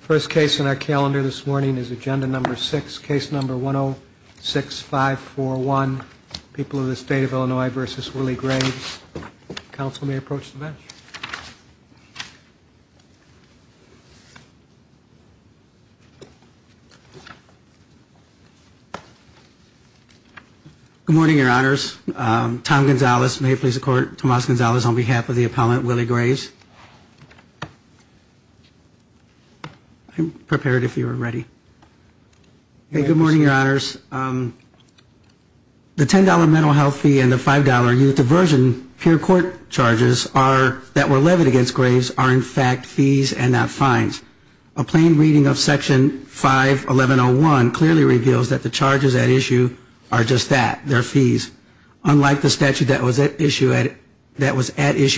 First case on our calendar this morning is agenda number 6, case number 106541, People of the State of Illinois v. Willie Graves. Counsel may approach the bench. Good morning, your honors. Tom Gonzalez. May it please the court, Tomas Gonzalez on behalf of the appellant Willie Graves. I'm prepared if you are ready. Good morning, your honors. The $10 mental health fee and the $5 youth diversion pure court charges that were levied against Graves are in fact fees and not fines. A plain reading of section 51101 clearly reveals that the charges at issue are just that, they're fees. Unlike the statute that was at issue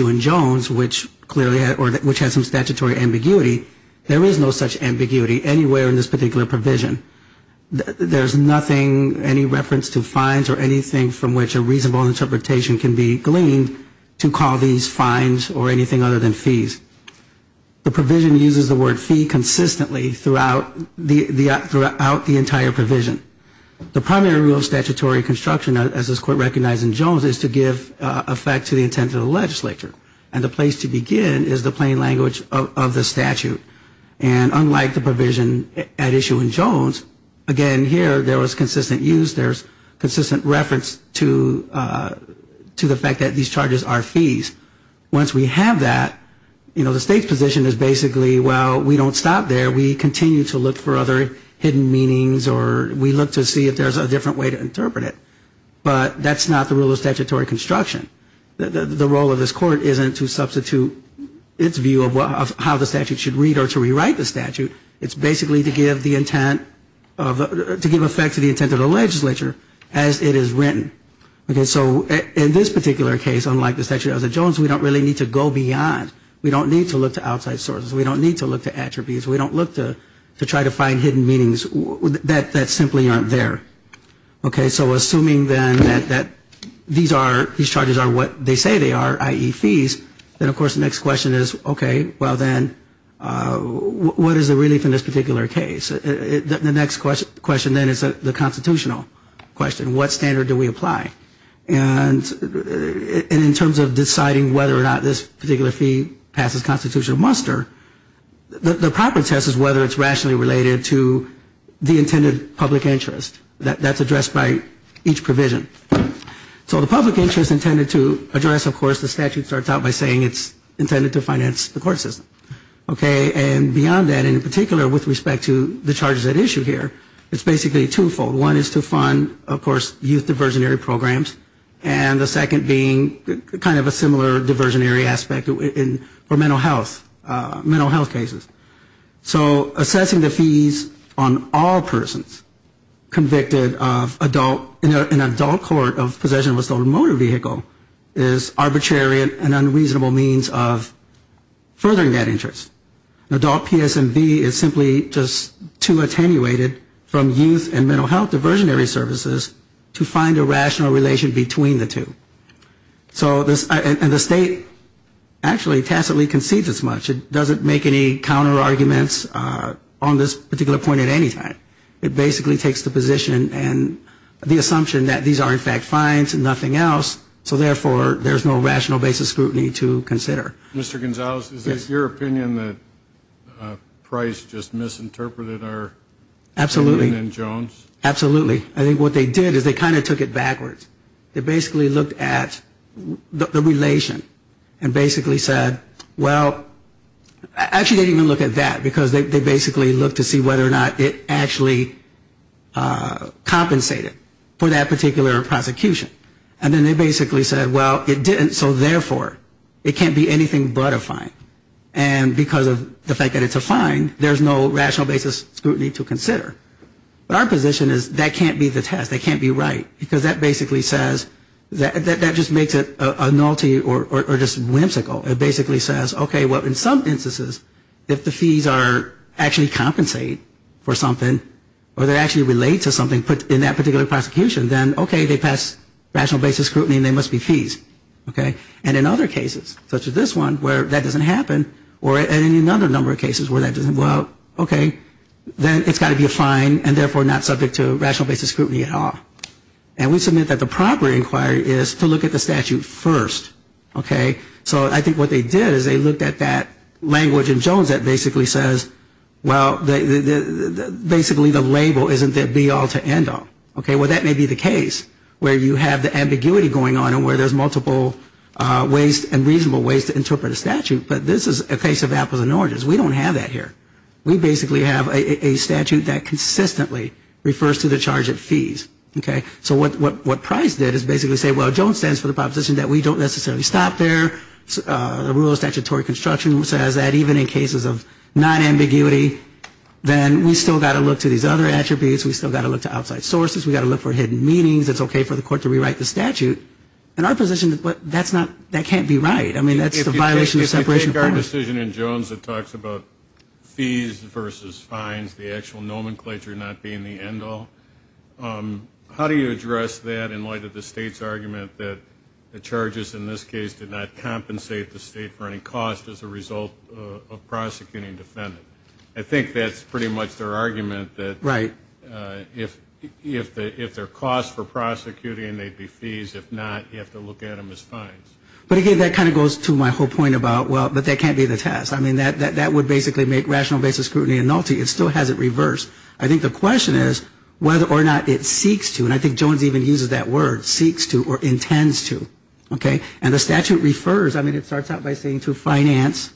in Jones, which clearly had some statutory ambiguity, the charges at issue are just fees. There is no such ambiguity anywhere in this particular provision. There's nothing, any reference to fines or anything from which a reasonable interpretation can be gleaned to call these fines or anything other than fees. The provision uses the word fee consistently throughout the entire provision. The primary rule of statutory construction, as this court recognized in Jones, is to give effect to the intent of the legislature. And the place to begin is the plain language of the statute. And unlike the provision at issue in Jones, again here there was consistent use, there's consistent reference to the fact that these charges are fees. Once we have that, you know, the state's position is basically, well, we don't stop there. We continue to look for other hidden meanings or we look to see if there's a different way to interpret it. But that's not the rule of statutory construction. The role of this court isn't to substitute its view of how the statute should read or to rewrite the statute. It's basically to give the intent of, to give effect to the intent of the legislature as it is written. So in this particular case, unlike the statute at Jones, we don't really need to go beyond. We don't need to look to outside sources. We don't need to look to attributes. We don't look to try to find hidden meanings that simply aren't there. Okay, so assuming then that these charges are what they say they are, i.e., fees, then of course the next question is, okay, well then, what is the relief in this particular case? The next question then is the constitutional question. What standard do we apply? And in terms of deciding whether or not this particular fee passes constitutional muster, the proper test is whether it's rationally related to the intended public interest. That's addressed by each provision. So the public interest intended to address, of course, the statute starts out by saying it's intended to finance the court system. Okay, and beyond that, and in particular with respect to the charges at issue here, it's basically twofold. One is to fund, of course, youth diversionary programs, and the second being kind of a similar diversionary aspect for mental health, mental health cases. So assessing the fees on all persons convicted of adult, in an adult court of possession of a stolen motor vehicle is arbitrary and unreasonable means of furthering that interest. Adult PSMV is simply just too attenuated from youth and mental health diversionary services to find a rational relation between the two. So this, and the state actually tacitly concedes as much. It doesn't make any counterarguments on this particular point at any time. It basically takes the position and the assumption that these are in fact fines and nothing else, so therefore there's no rational basis scrutiny to consider. Mr. Gonzalez, is this your opinion that Price just misinterpreted our opinion in Jones? Absolutely. I think what they did is they kind of took it backwards. They basically looked at the relation and basically said, well, actually they didn't even look at that because they basically looked to see whether or not it actually compensated for that particular prosecution. And then they basically said, well, it didn't, so therefore it can't be anything but a fine. And because of the fact that it's a fine, there's no rational basis scrutiny to consider. But our position is that can't be the test. That can't be right, because that basically says, that just makes it a nullity or just whimsical. It basically says, okay, well, in some instances, if the fees actually compensate for something or they actually relate to something in that particular prosecution, then, okay, they pass rational basis scrutiny and they must be fees. And in other cases, such as this one, where that doesn't happen, or in another number of cases where that doesn't, well, okay, then it's got to be a fine and therefore not subject to rational basis scrutiny at all. And we submit that the proper inquiry is to look at the statute first. So I think what they did is they looked at that language in Jones that basically says, well, basically the label isn't there be all to end all. And that may be the case where you have the ambiguity going on and where there's multiple ways and reasonable ways to interpret a statute. But this is a case of apples and oranges. We don't have that here. We basically have a statute that consistently refers to the charge of fees. So what Price did is basically say, well, Jones stands for the proposition that we don't necessarily stop there. The rule of statutory construction says that even in cases of non-ambiguity, then we've still got to look to these other attributes. We've still got to look to outside sources. We've got to look for hidden meanings. It's okay for the court to rewrite the statute. In our position, that can't be right. I mean, that's the violation of separation of parties. If you take our decision in Jones that talks about fees versus fines, the actual nomenclature not being the end all, how do you address that in light of the state's argument that the charges in this case did not compensate the state for any cost as a result of prosecuting a defendant? I think that's pretty much their argument that if there are costs for prosecuting, they'd be fees. If not, you have to look at them as fines. But again, that kind of goes to my whole point about, well, but that can't be the test. I mean, that would basically make rational basis scrutiny a nullity. It still has it reversed. I think the question is whether or not it seeks to, and I think Jones even uses that word, seeks to or intends to. And the statute refers, I mean, it starts out by saying to finance,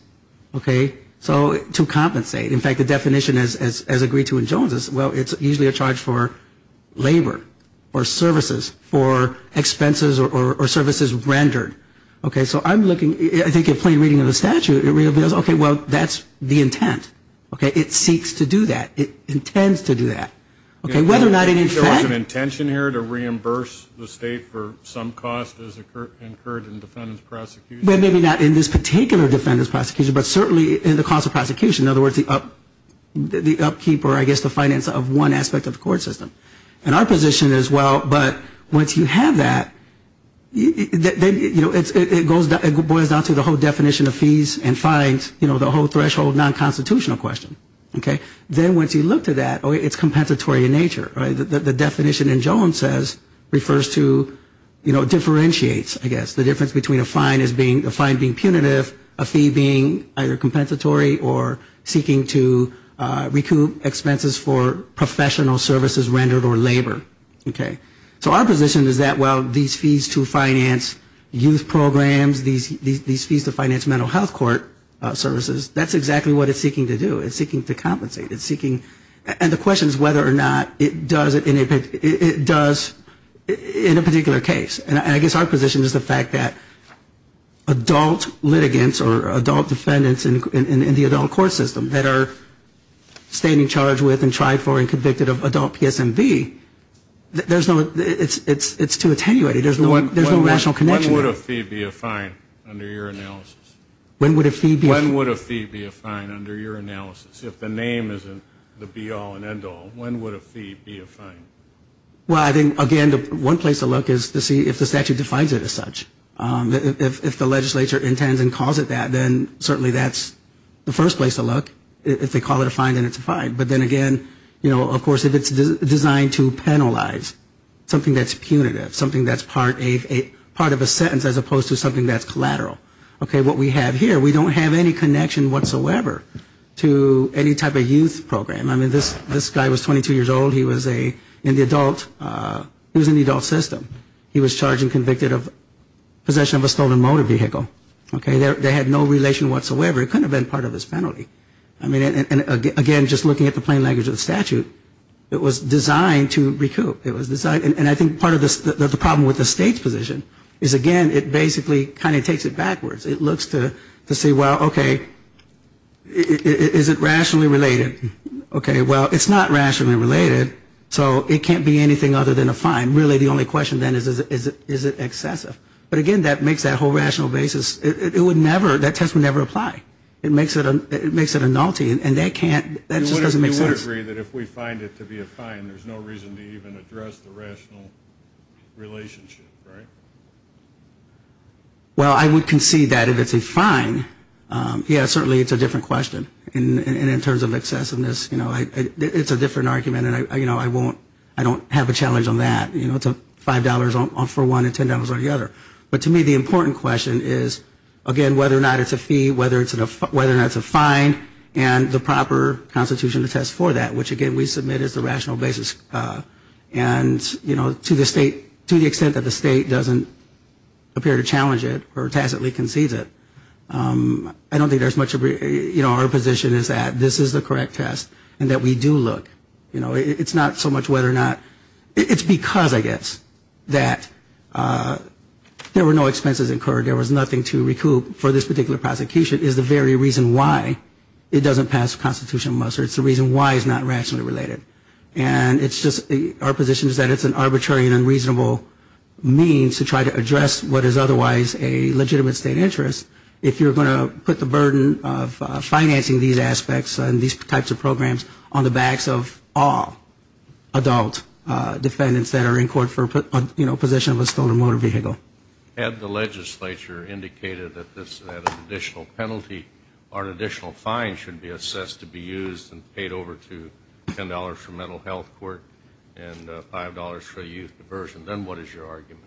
to compensate. In fact, the definition as agreed to in Jones is, well, it's usually a charge for labor or services, for expenses or services rendered. So I'm looking, I think at plain reading of the statute, it reveals, okay, well, that's the intent. It seeks to do that. It intends to do that. Whether or not in effect. Is there an intention here to reimburse the state for some cost as incurred in defendant's prosecution? Maybe not in this particular defendant's prosecution, but certainly in the cost of prosecution. In other words, the upkeep or I guess the finance of one aspect of the court system. And our position is, well, but once you have that, you know, it boils down to the whole definition of fees and fines. You know, the whole threshold non-constitutional question. Then once you look to that, it's compensatory in nature. The definition in Jones says, refers to, you know, differentiates, I guess. The difference between a fine as being, a fine being punitive, a fee being either compensatory or seeking to recoup expenses for professional services rendered or labor. Okay. So our position is that, well, these fees to finance youth programs, these fees to finance mental health court services, that's exactly what it's seeking to do. It's seeking to compensate. It's seeking. And the question is whether or not it does in a particular case. And I guess our position is the fact that adult litigants or adult defendants in the adult court system that are standing charged with and tried for and convicted of adult PSMV, there's no, it's too attenuated. There's no rational connection there. When would a fee be a fine under your analysis? When would a fee be a fine under your analysis? If the name isn't the be-all and end-all, when would a fee be a fine? Well, I think, again, one place to look is to see if the statute defines it as such. If the legislature intends and calls it that, then certainly that's the first place to look. If they call it a fine, then it's a fine. But then again, you know, of course, if it's designed to penalize something that's punitive, something that's part of a sentence as opposed to something that's collateral, okay, what we have here, we don't have any connection whatsoever to any type of youth program. I mean, this guy was 22 years old. He was in the adult system. He was charged and convicted of possession of a stolen motor vehicle. Okay, they had no relation whatsoever. It couldn't have been part of his penalty. Again, just looking at the plain language of the statute, it was designed to recoup. And I think part of the problem with the state's position is, again, it basically kind of takes it backwards. It looks to see, well, okay, is it rationally related? Okay, well, it's not rationally related, so it can't be anything other than a fine. And really the only question then is, is it excessive? But again, that makes that whole rational basis, it would never, that test would never apply. It makes it a nullity, and that can't, that just doesn't make sense. You would agree that if we find it to be a fine, there's no reason to even address the rational relationship, right? Well, I would concede that if it's a fine, yeah, certainly it's a different question. And in terms of excessiveness, you know, it's a different argument, and, you know, I won't, I don't have a challenge on that. You know, it's $5 for one and $10 on the other. But to me, the important question is, again, whether or not it's a fee, whether or not it's a fine, and the proper constitution to test for that, which, again, we submit as the rational basis. And, you know, to the state, to the extent that the state doesn't appear to challenge it or tacitly concedes it, I don't think there's much of a, you know, our position is that this is the correct test and that we do look. You know, it's not so much whether or not, it's because, I guess, that there were no expenses incurred, there was nothing to recoup for this particular prosecution is the very reason why it doesn't pass Constitution of Muster. It's the reason why it's not rationally related. And it's just, our position is that it's an arbitrary and unreasonable means to try to address what is otherwise a legitimate state interest. If you're going to put the burden of financing these aspects and these types of programs on the backs of all adult defendants that are in court for, you know, possession of a stolen motor vehicle. Had the legislature indicated that this had an additional penalty or an additional fine should be assessed to be used and paid over to $10 for mental health court and $5 for youth diversion, then what is your argument?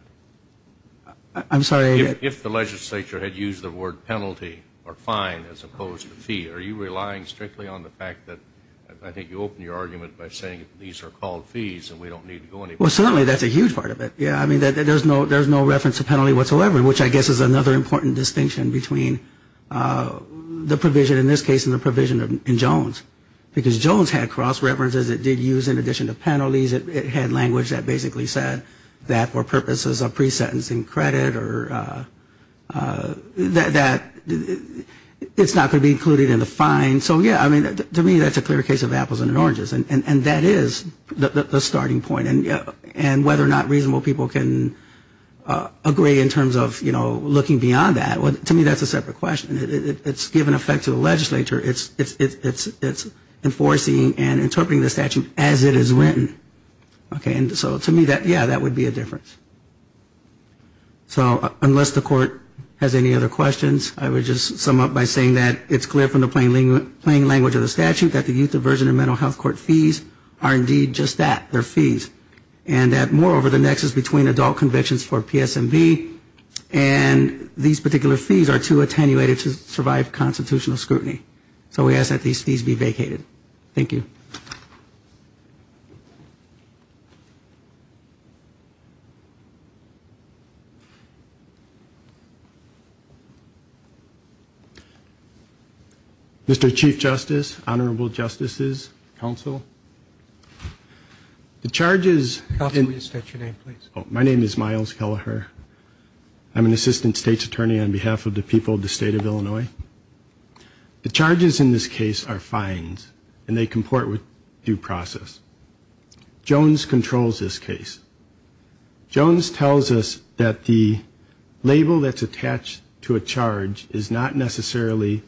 I'm sorry. If the legislature had used the word penalty or fine as opposed to fee, are you relying strictly on the fact that I think you open your argument by saying these are called fees and we don't need to go any further? Well, certainly that's a huge part of it. Yeah, I mean, there's no reference to penalty whatsoever, which I guess is another important distinction between the provision in this case and the provision in Jones, because Jones had cross references it did use in addition to penalties. It had language that basically said that for purposes of pre-sentencing credit or that it's not going to be included in the fine. So, yeah, I mean, to me that's a clear case of apples and oranges. And that is the starting point. And whether or not reasonable people can agree in terms of, you know, looking beyond that, to me that's a separate question. It's given effect to the legislature. It's enforcing and interpreting the statute as it is written. So to me, yeah, that would be a difference. So unless the court has any other questions, I would just sum up by saying that it's clear from the plain language of the statute that the youth are entitled to just that, their fees, and that moreover the nexus between adult convictions for PSMB and these particular fees are too attenuated to survive constitutional scrutiny. So we ask that these fees be vacated. Thank you. Mr. Chief Justice, Honorable Justices, Counsel. The charges... My name is Miles Kelleher. I'm an Assistant State's Attorney on behalf of the people of the State of Illinois. The charges in this case are fines, and they comport with due process. Jones controls this case. Jones tells us that the label that's attached to a charge is not necessarily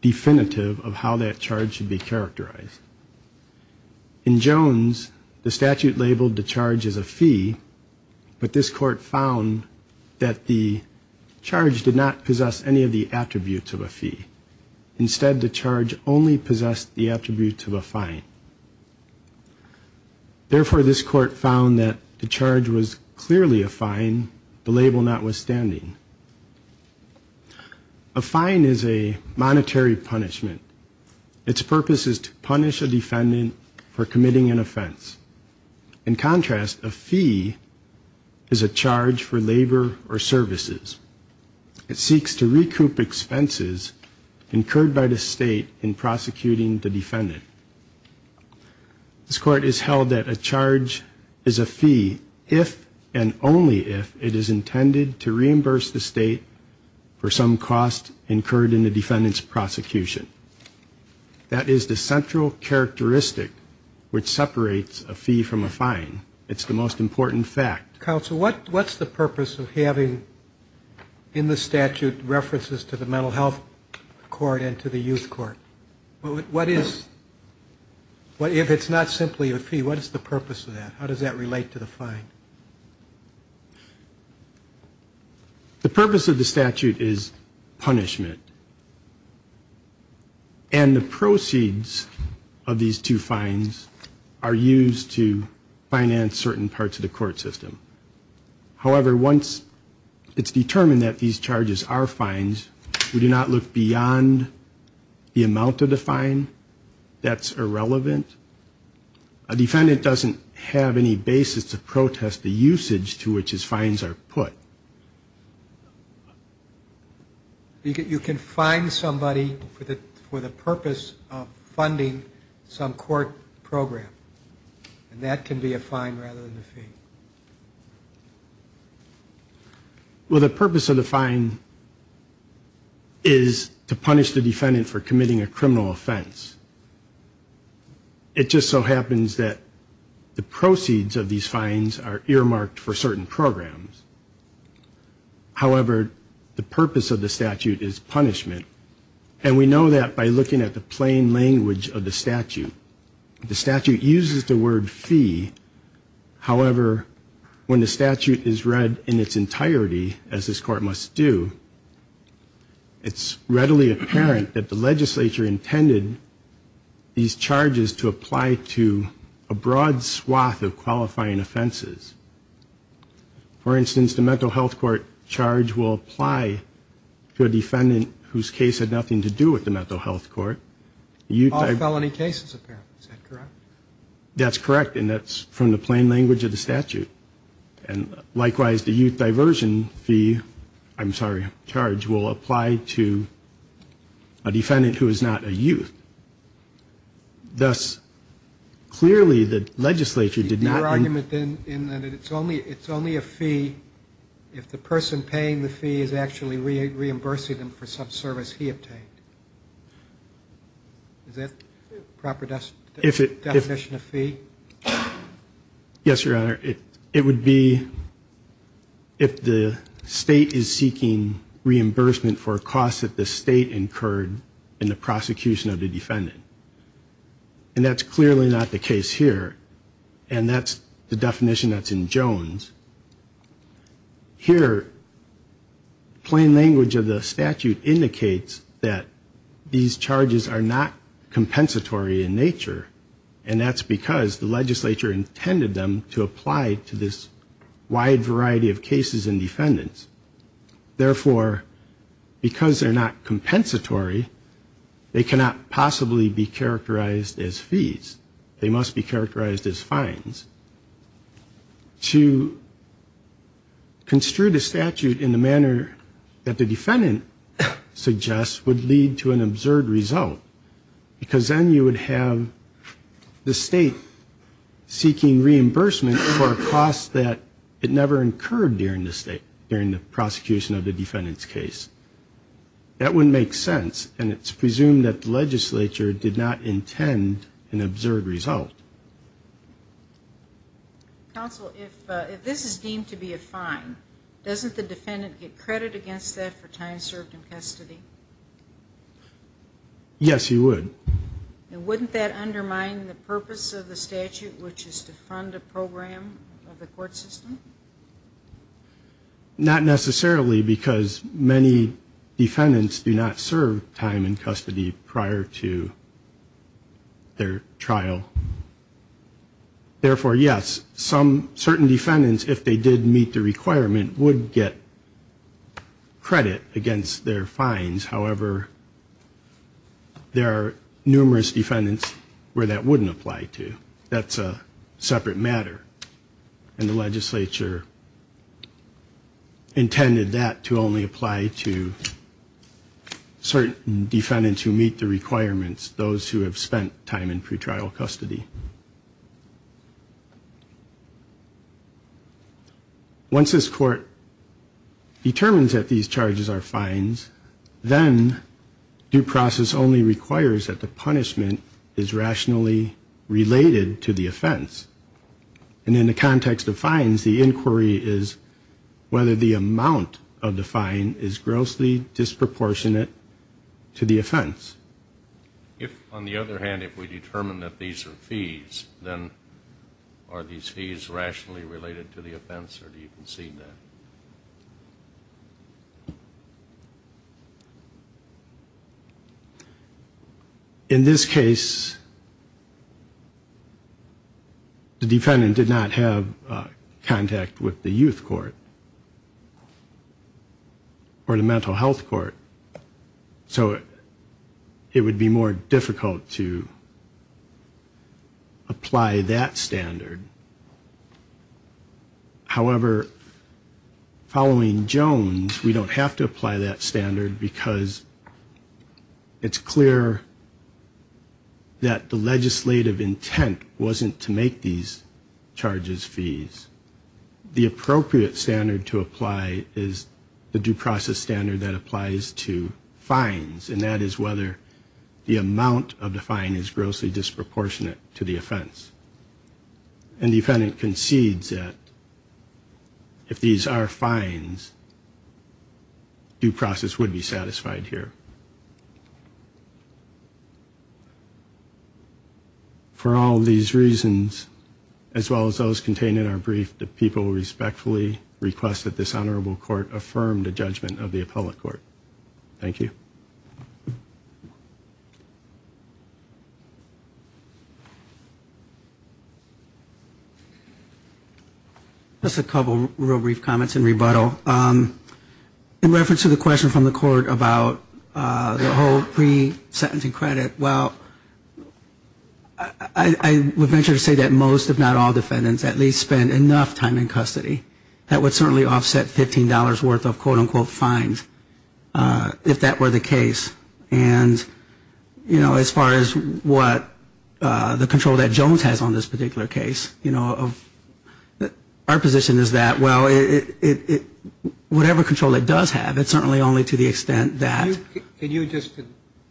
definitive of how that charge should be characterized. In Jones, the statute labeled the charge as a fee, but this court found that the charge did not possess any of the attributes of a fee. Instead, the charge only possessed the attributes of a fine. Therefore, this court found that the charge was clearly a fine, the label notwithstanding. A fine is a monetary punishment. Its purpose is to punish a defendant for committing an offense. In contrast, a fee is a charge for labor or services. It seeks to recoup expenses incurred by the state in prosecuting the defendant. This court has held that a charge is a fee if and only if it is intended to reimburse the state for some cost incurred in the defendant's prosecution. That is the central characteristic which separates a fee from a fine. It's the most important fact. Counsel, what's the purpose of having in the statute references to the mental health court and to the youth court? If it's not simply a fee, what is the purpose of that? How does that relate to the fine? The purpose of the statute is punishment. And the proceeds of these two fines are used to finance the defendant's prosecution. And certain parts of the court system. However, once it's determined that these charges are fines, we do not look beyond the amount of the fine. That's irrelevant. A defendant doesn't have any basis to protest the usage to which his fines are put. You can fine somebody for the purpose of funding some court program. And that can be a fine rather than a fee. Well, the purpose of the fine is to punish the defendant for committing a criminal offense. It just so happens that the proceeds of these fines are earmarked for certain programs. However, the purpose of the statute is punishment. And we know that by looking at the plain language of the statute. The statute uses the word fee, however, when the statute is read in its entirety, as this court must do, it's readily apparent that the legislature intended these charges to apply to a broad swath of qualifying offenses. For instance, the mental health court charge will apply to a defendant whose case had nothing to do with the mental health court. All felony cases, apparently. Is that correct? That's correct. And that's from the plain language of the statute. And likewise, the youth diversion fee, I'm sorry, charge, will apply to a defendant who is not a youth. Thus, clearly, the legislature did not... Your argument, then, in that it's only a fee if the person paying the fee is actually reimbursing them for some service he obtained. Is that proper definition of fee? Yes, Your Honor. It would be if the state is seeking reimbursement for costs that the state incurred in the prosecution of the youth. And that's clearly not the case here. And that's the definition that's in Jones. Here, plain language of the statute indicates that these charges are not compensatory in nature. And that's because the legislature intended them to apply to this wide variety of cases and defendants. Therefore, because they're not compensatory, they cannot possibly be characterized as fees. They must be characterized as fines. To construe the statute in the manner that the defendant suggests would lead to an absurd result. Because then you would have the state seeking reimbursement for a cost that it never incurred during the prosecution. That wouldn't make sense, and it's presumed that the legislature did not intend an absurd result. Counsel, if this is deemed to be a fine, doesn't the defendant get credit against that for time served in custody? Yes, he would. And wouldn't that undermine the purpose of the statute, which is to fund a program of the court system? Not necessarily, because many defendants do not serve time in custody prior to their trial. Therefore, yes, some certain defendants, if they did meet the requirement, would get credit against their fines. However, there are numerous defendants where that wouldn't apply to. That's a separate matter, and the legislature intended that to only apply to certain defendants who meet the requirements, those who have spent time in pretrial custody. Once this court determines that these charges are fines, then due process only requires that the punishment is rationally related to the offense. And in the context of fines, the inquiry is whether the amount of the fine is grossly disproportionate to the offense. If, on the other hand, if we determine that these are fees, then are these fees rationally related to the offense, or do you concede that? In this case, the defendant did not have contact with the youth court or the mental health court. So it would be more difficult to apply that standard. However, following Jones, we don't have to apply that standard, because it's clear that the legislative intent wasn't to make these charges fees. The appropriate standard to apply is the due process standard that applies to fines, and that is whether the amount of the fine is grossly disproportionate to the offense. And the defendant concedes that if these are fines, due process would be satisfied here. For all these reasons, as well as those contained in our brief, the people respectfully request that this honorable court affirm the judgment of the appellate court. Thank you. Just a couple real brief comments in rebuttal. In reference to the question from the court about the whole pre-sentencing credit, well, I would venture to say that most, if not all, defendants at least spend enough time in custody. That would certainly offset $15 worth of quote, unquote, fines, if that were the case. And, you know, as far as what the control that Jones has on this particular case, you know, our position is that, well, it, you know, it's a matter of course. But whatever control it does have, it's certainly only to the extent that... Can you just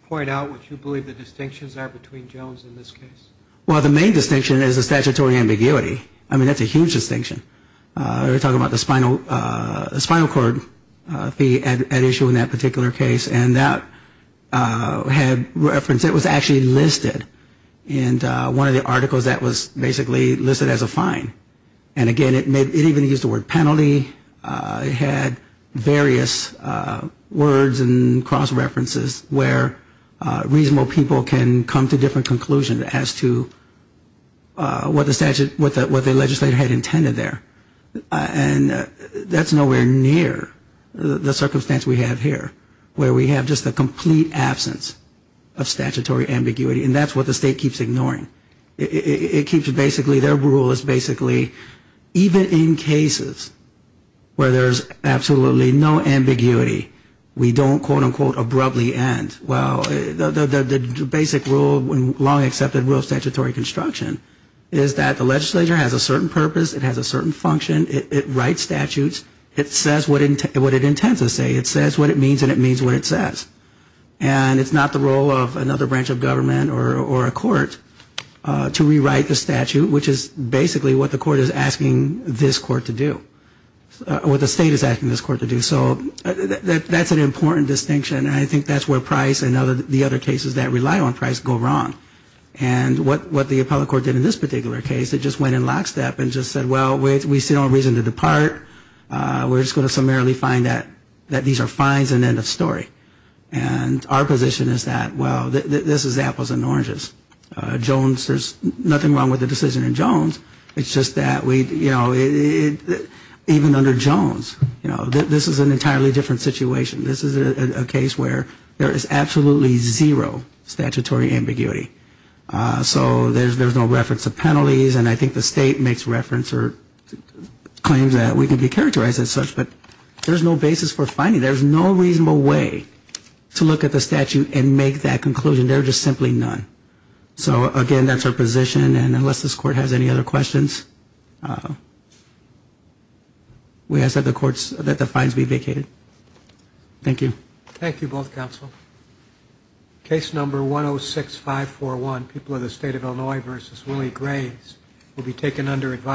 point out what you believe the distinctions are between Jones and this case? Well, the main distinction is the statutory ambiguity. I mean, that's a huge distinction. We're talking about the spinal cord fee at issue in that particular case, and that had reference, it was actually listed in one of the articles that was basically listed as a fine. And again, it even used the word penalty, it had various words and cross-references where reasonable people can come to different conclusions as to what the legislature had intended there. And that's nowhere near the circumstance we have here, where we have just a complete absence of statutory ambiguity, and that's what the state keeps ignoring. It keeps basically, their rule is basically, even in cases where there's absolutely no ambiguity, we don't, quote, unquote, abruptly end. Well, the basic rule, long accepted rule of statutory construction, is that the legislature has a certain purpose, it has a certain function, it writes statutes, it says what it intends to say, it says what it means, and it means what it says. And it's not the role of another branch of government or a court to rewrite the statute, which is basically what the court is asking this court to do, or what the state is asking this court to do. So that's an important distinction, and I think that's where Price and the other cases that rely on Price go wrong. And what the appellate court did in this particular case, it just went in lockstep and just said, well, we still don't reason to depart, we're just going to primarily find that these are fines and end of story. And our position is that, well, this is apples and oranges. Jones, there's nothing wrong with the decision in Jones, it's just that we, you know, even under Jones, you know, this is an entirely different situation. This is a case where there is absolutely zero statutory ambiguity. So there's no reference to penalties, and I think the state makes reference or claims that we can be characterized as such. But there's no basis for finding, there's no reasonable way to look at the statute and make that conclusion. There are just simply none. So, again, that's our position, and unless this court has any other questions, we ask that the fines be vacated. Thank you.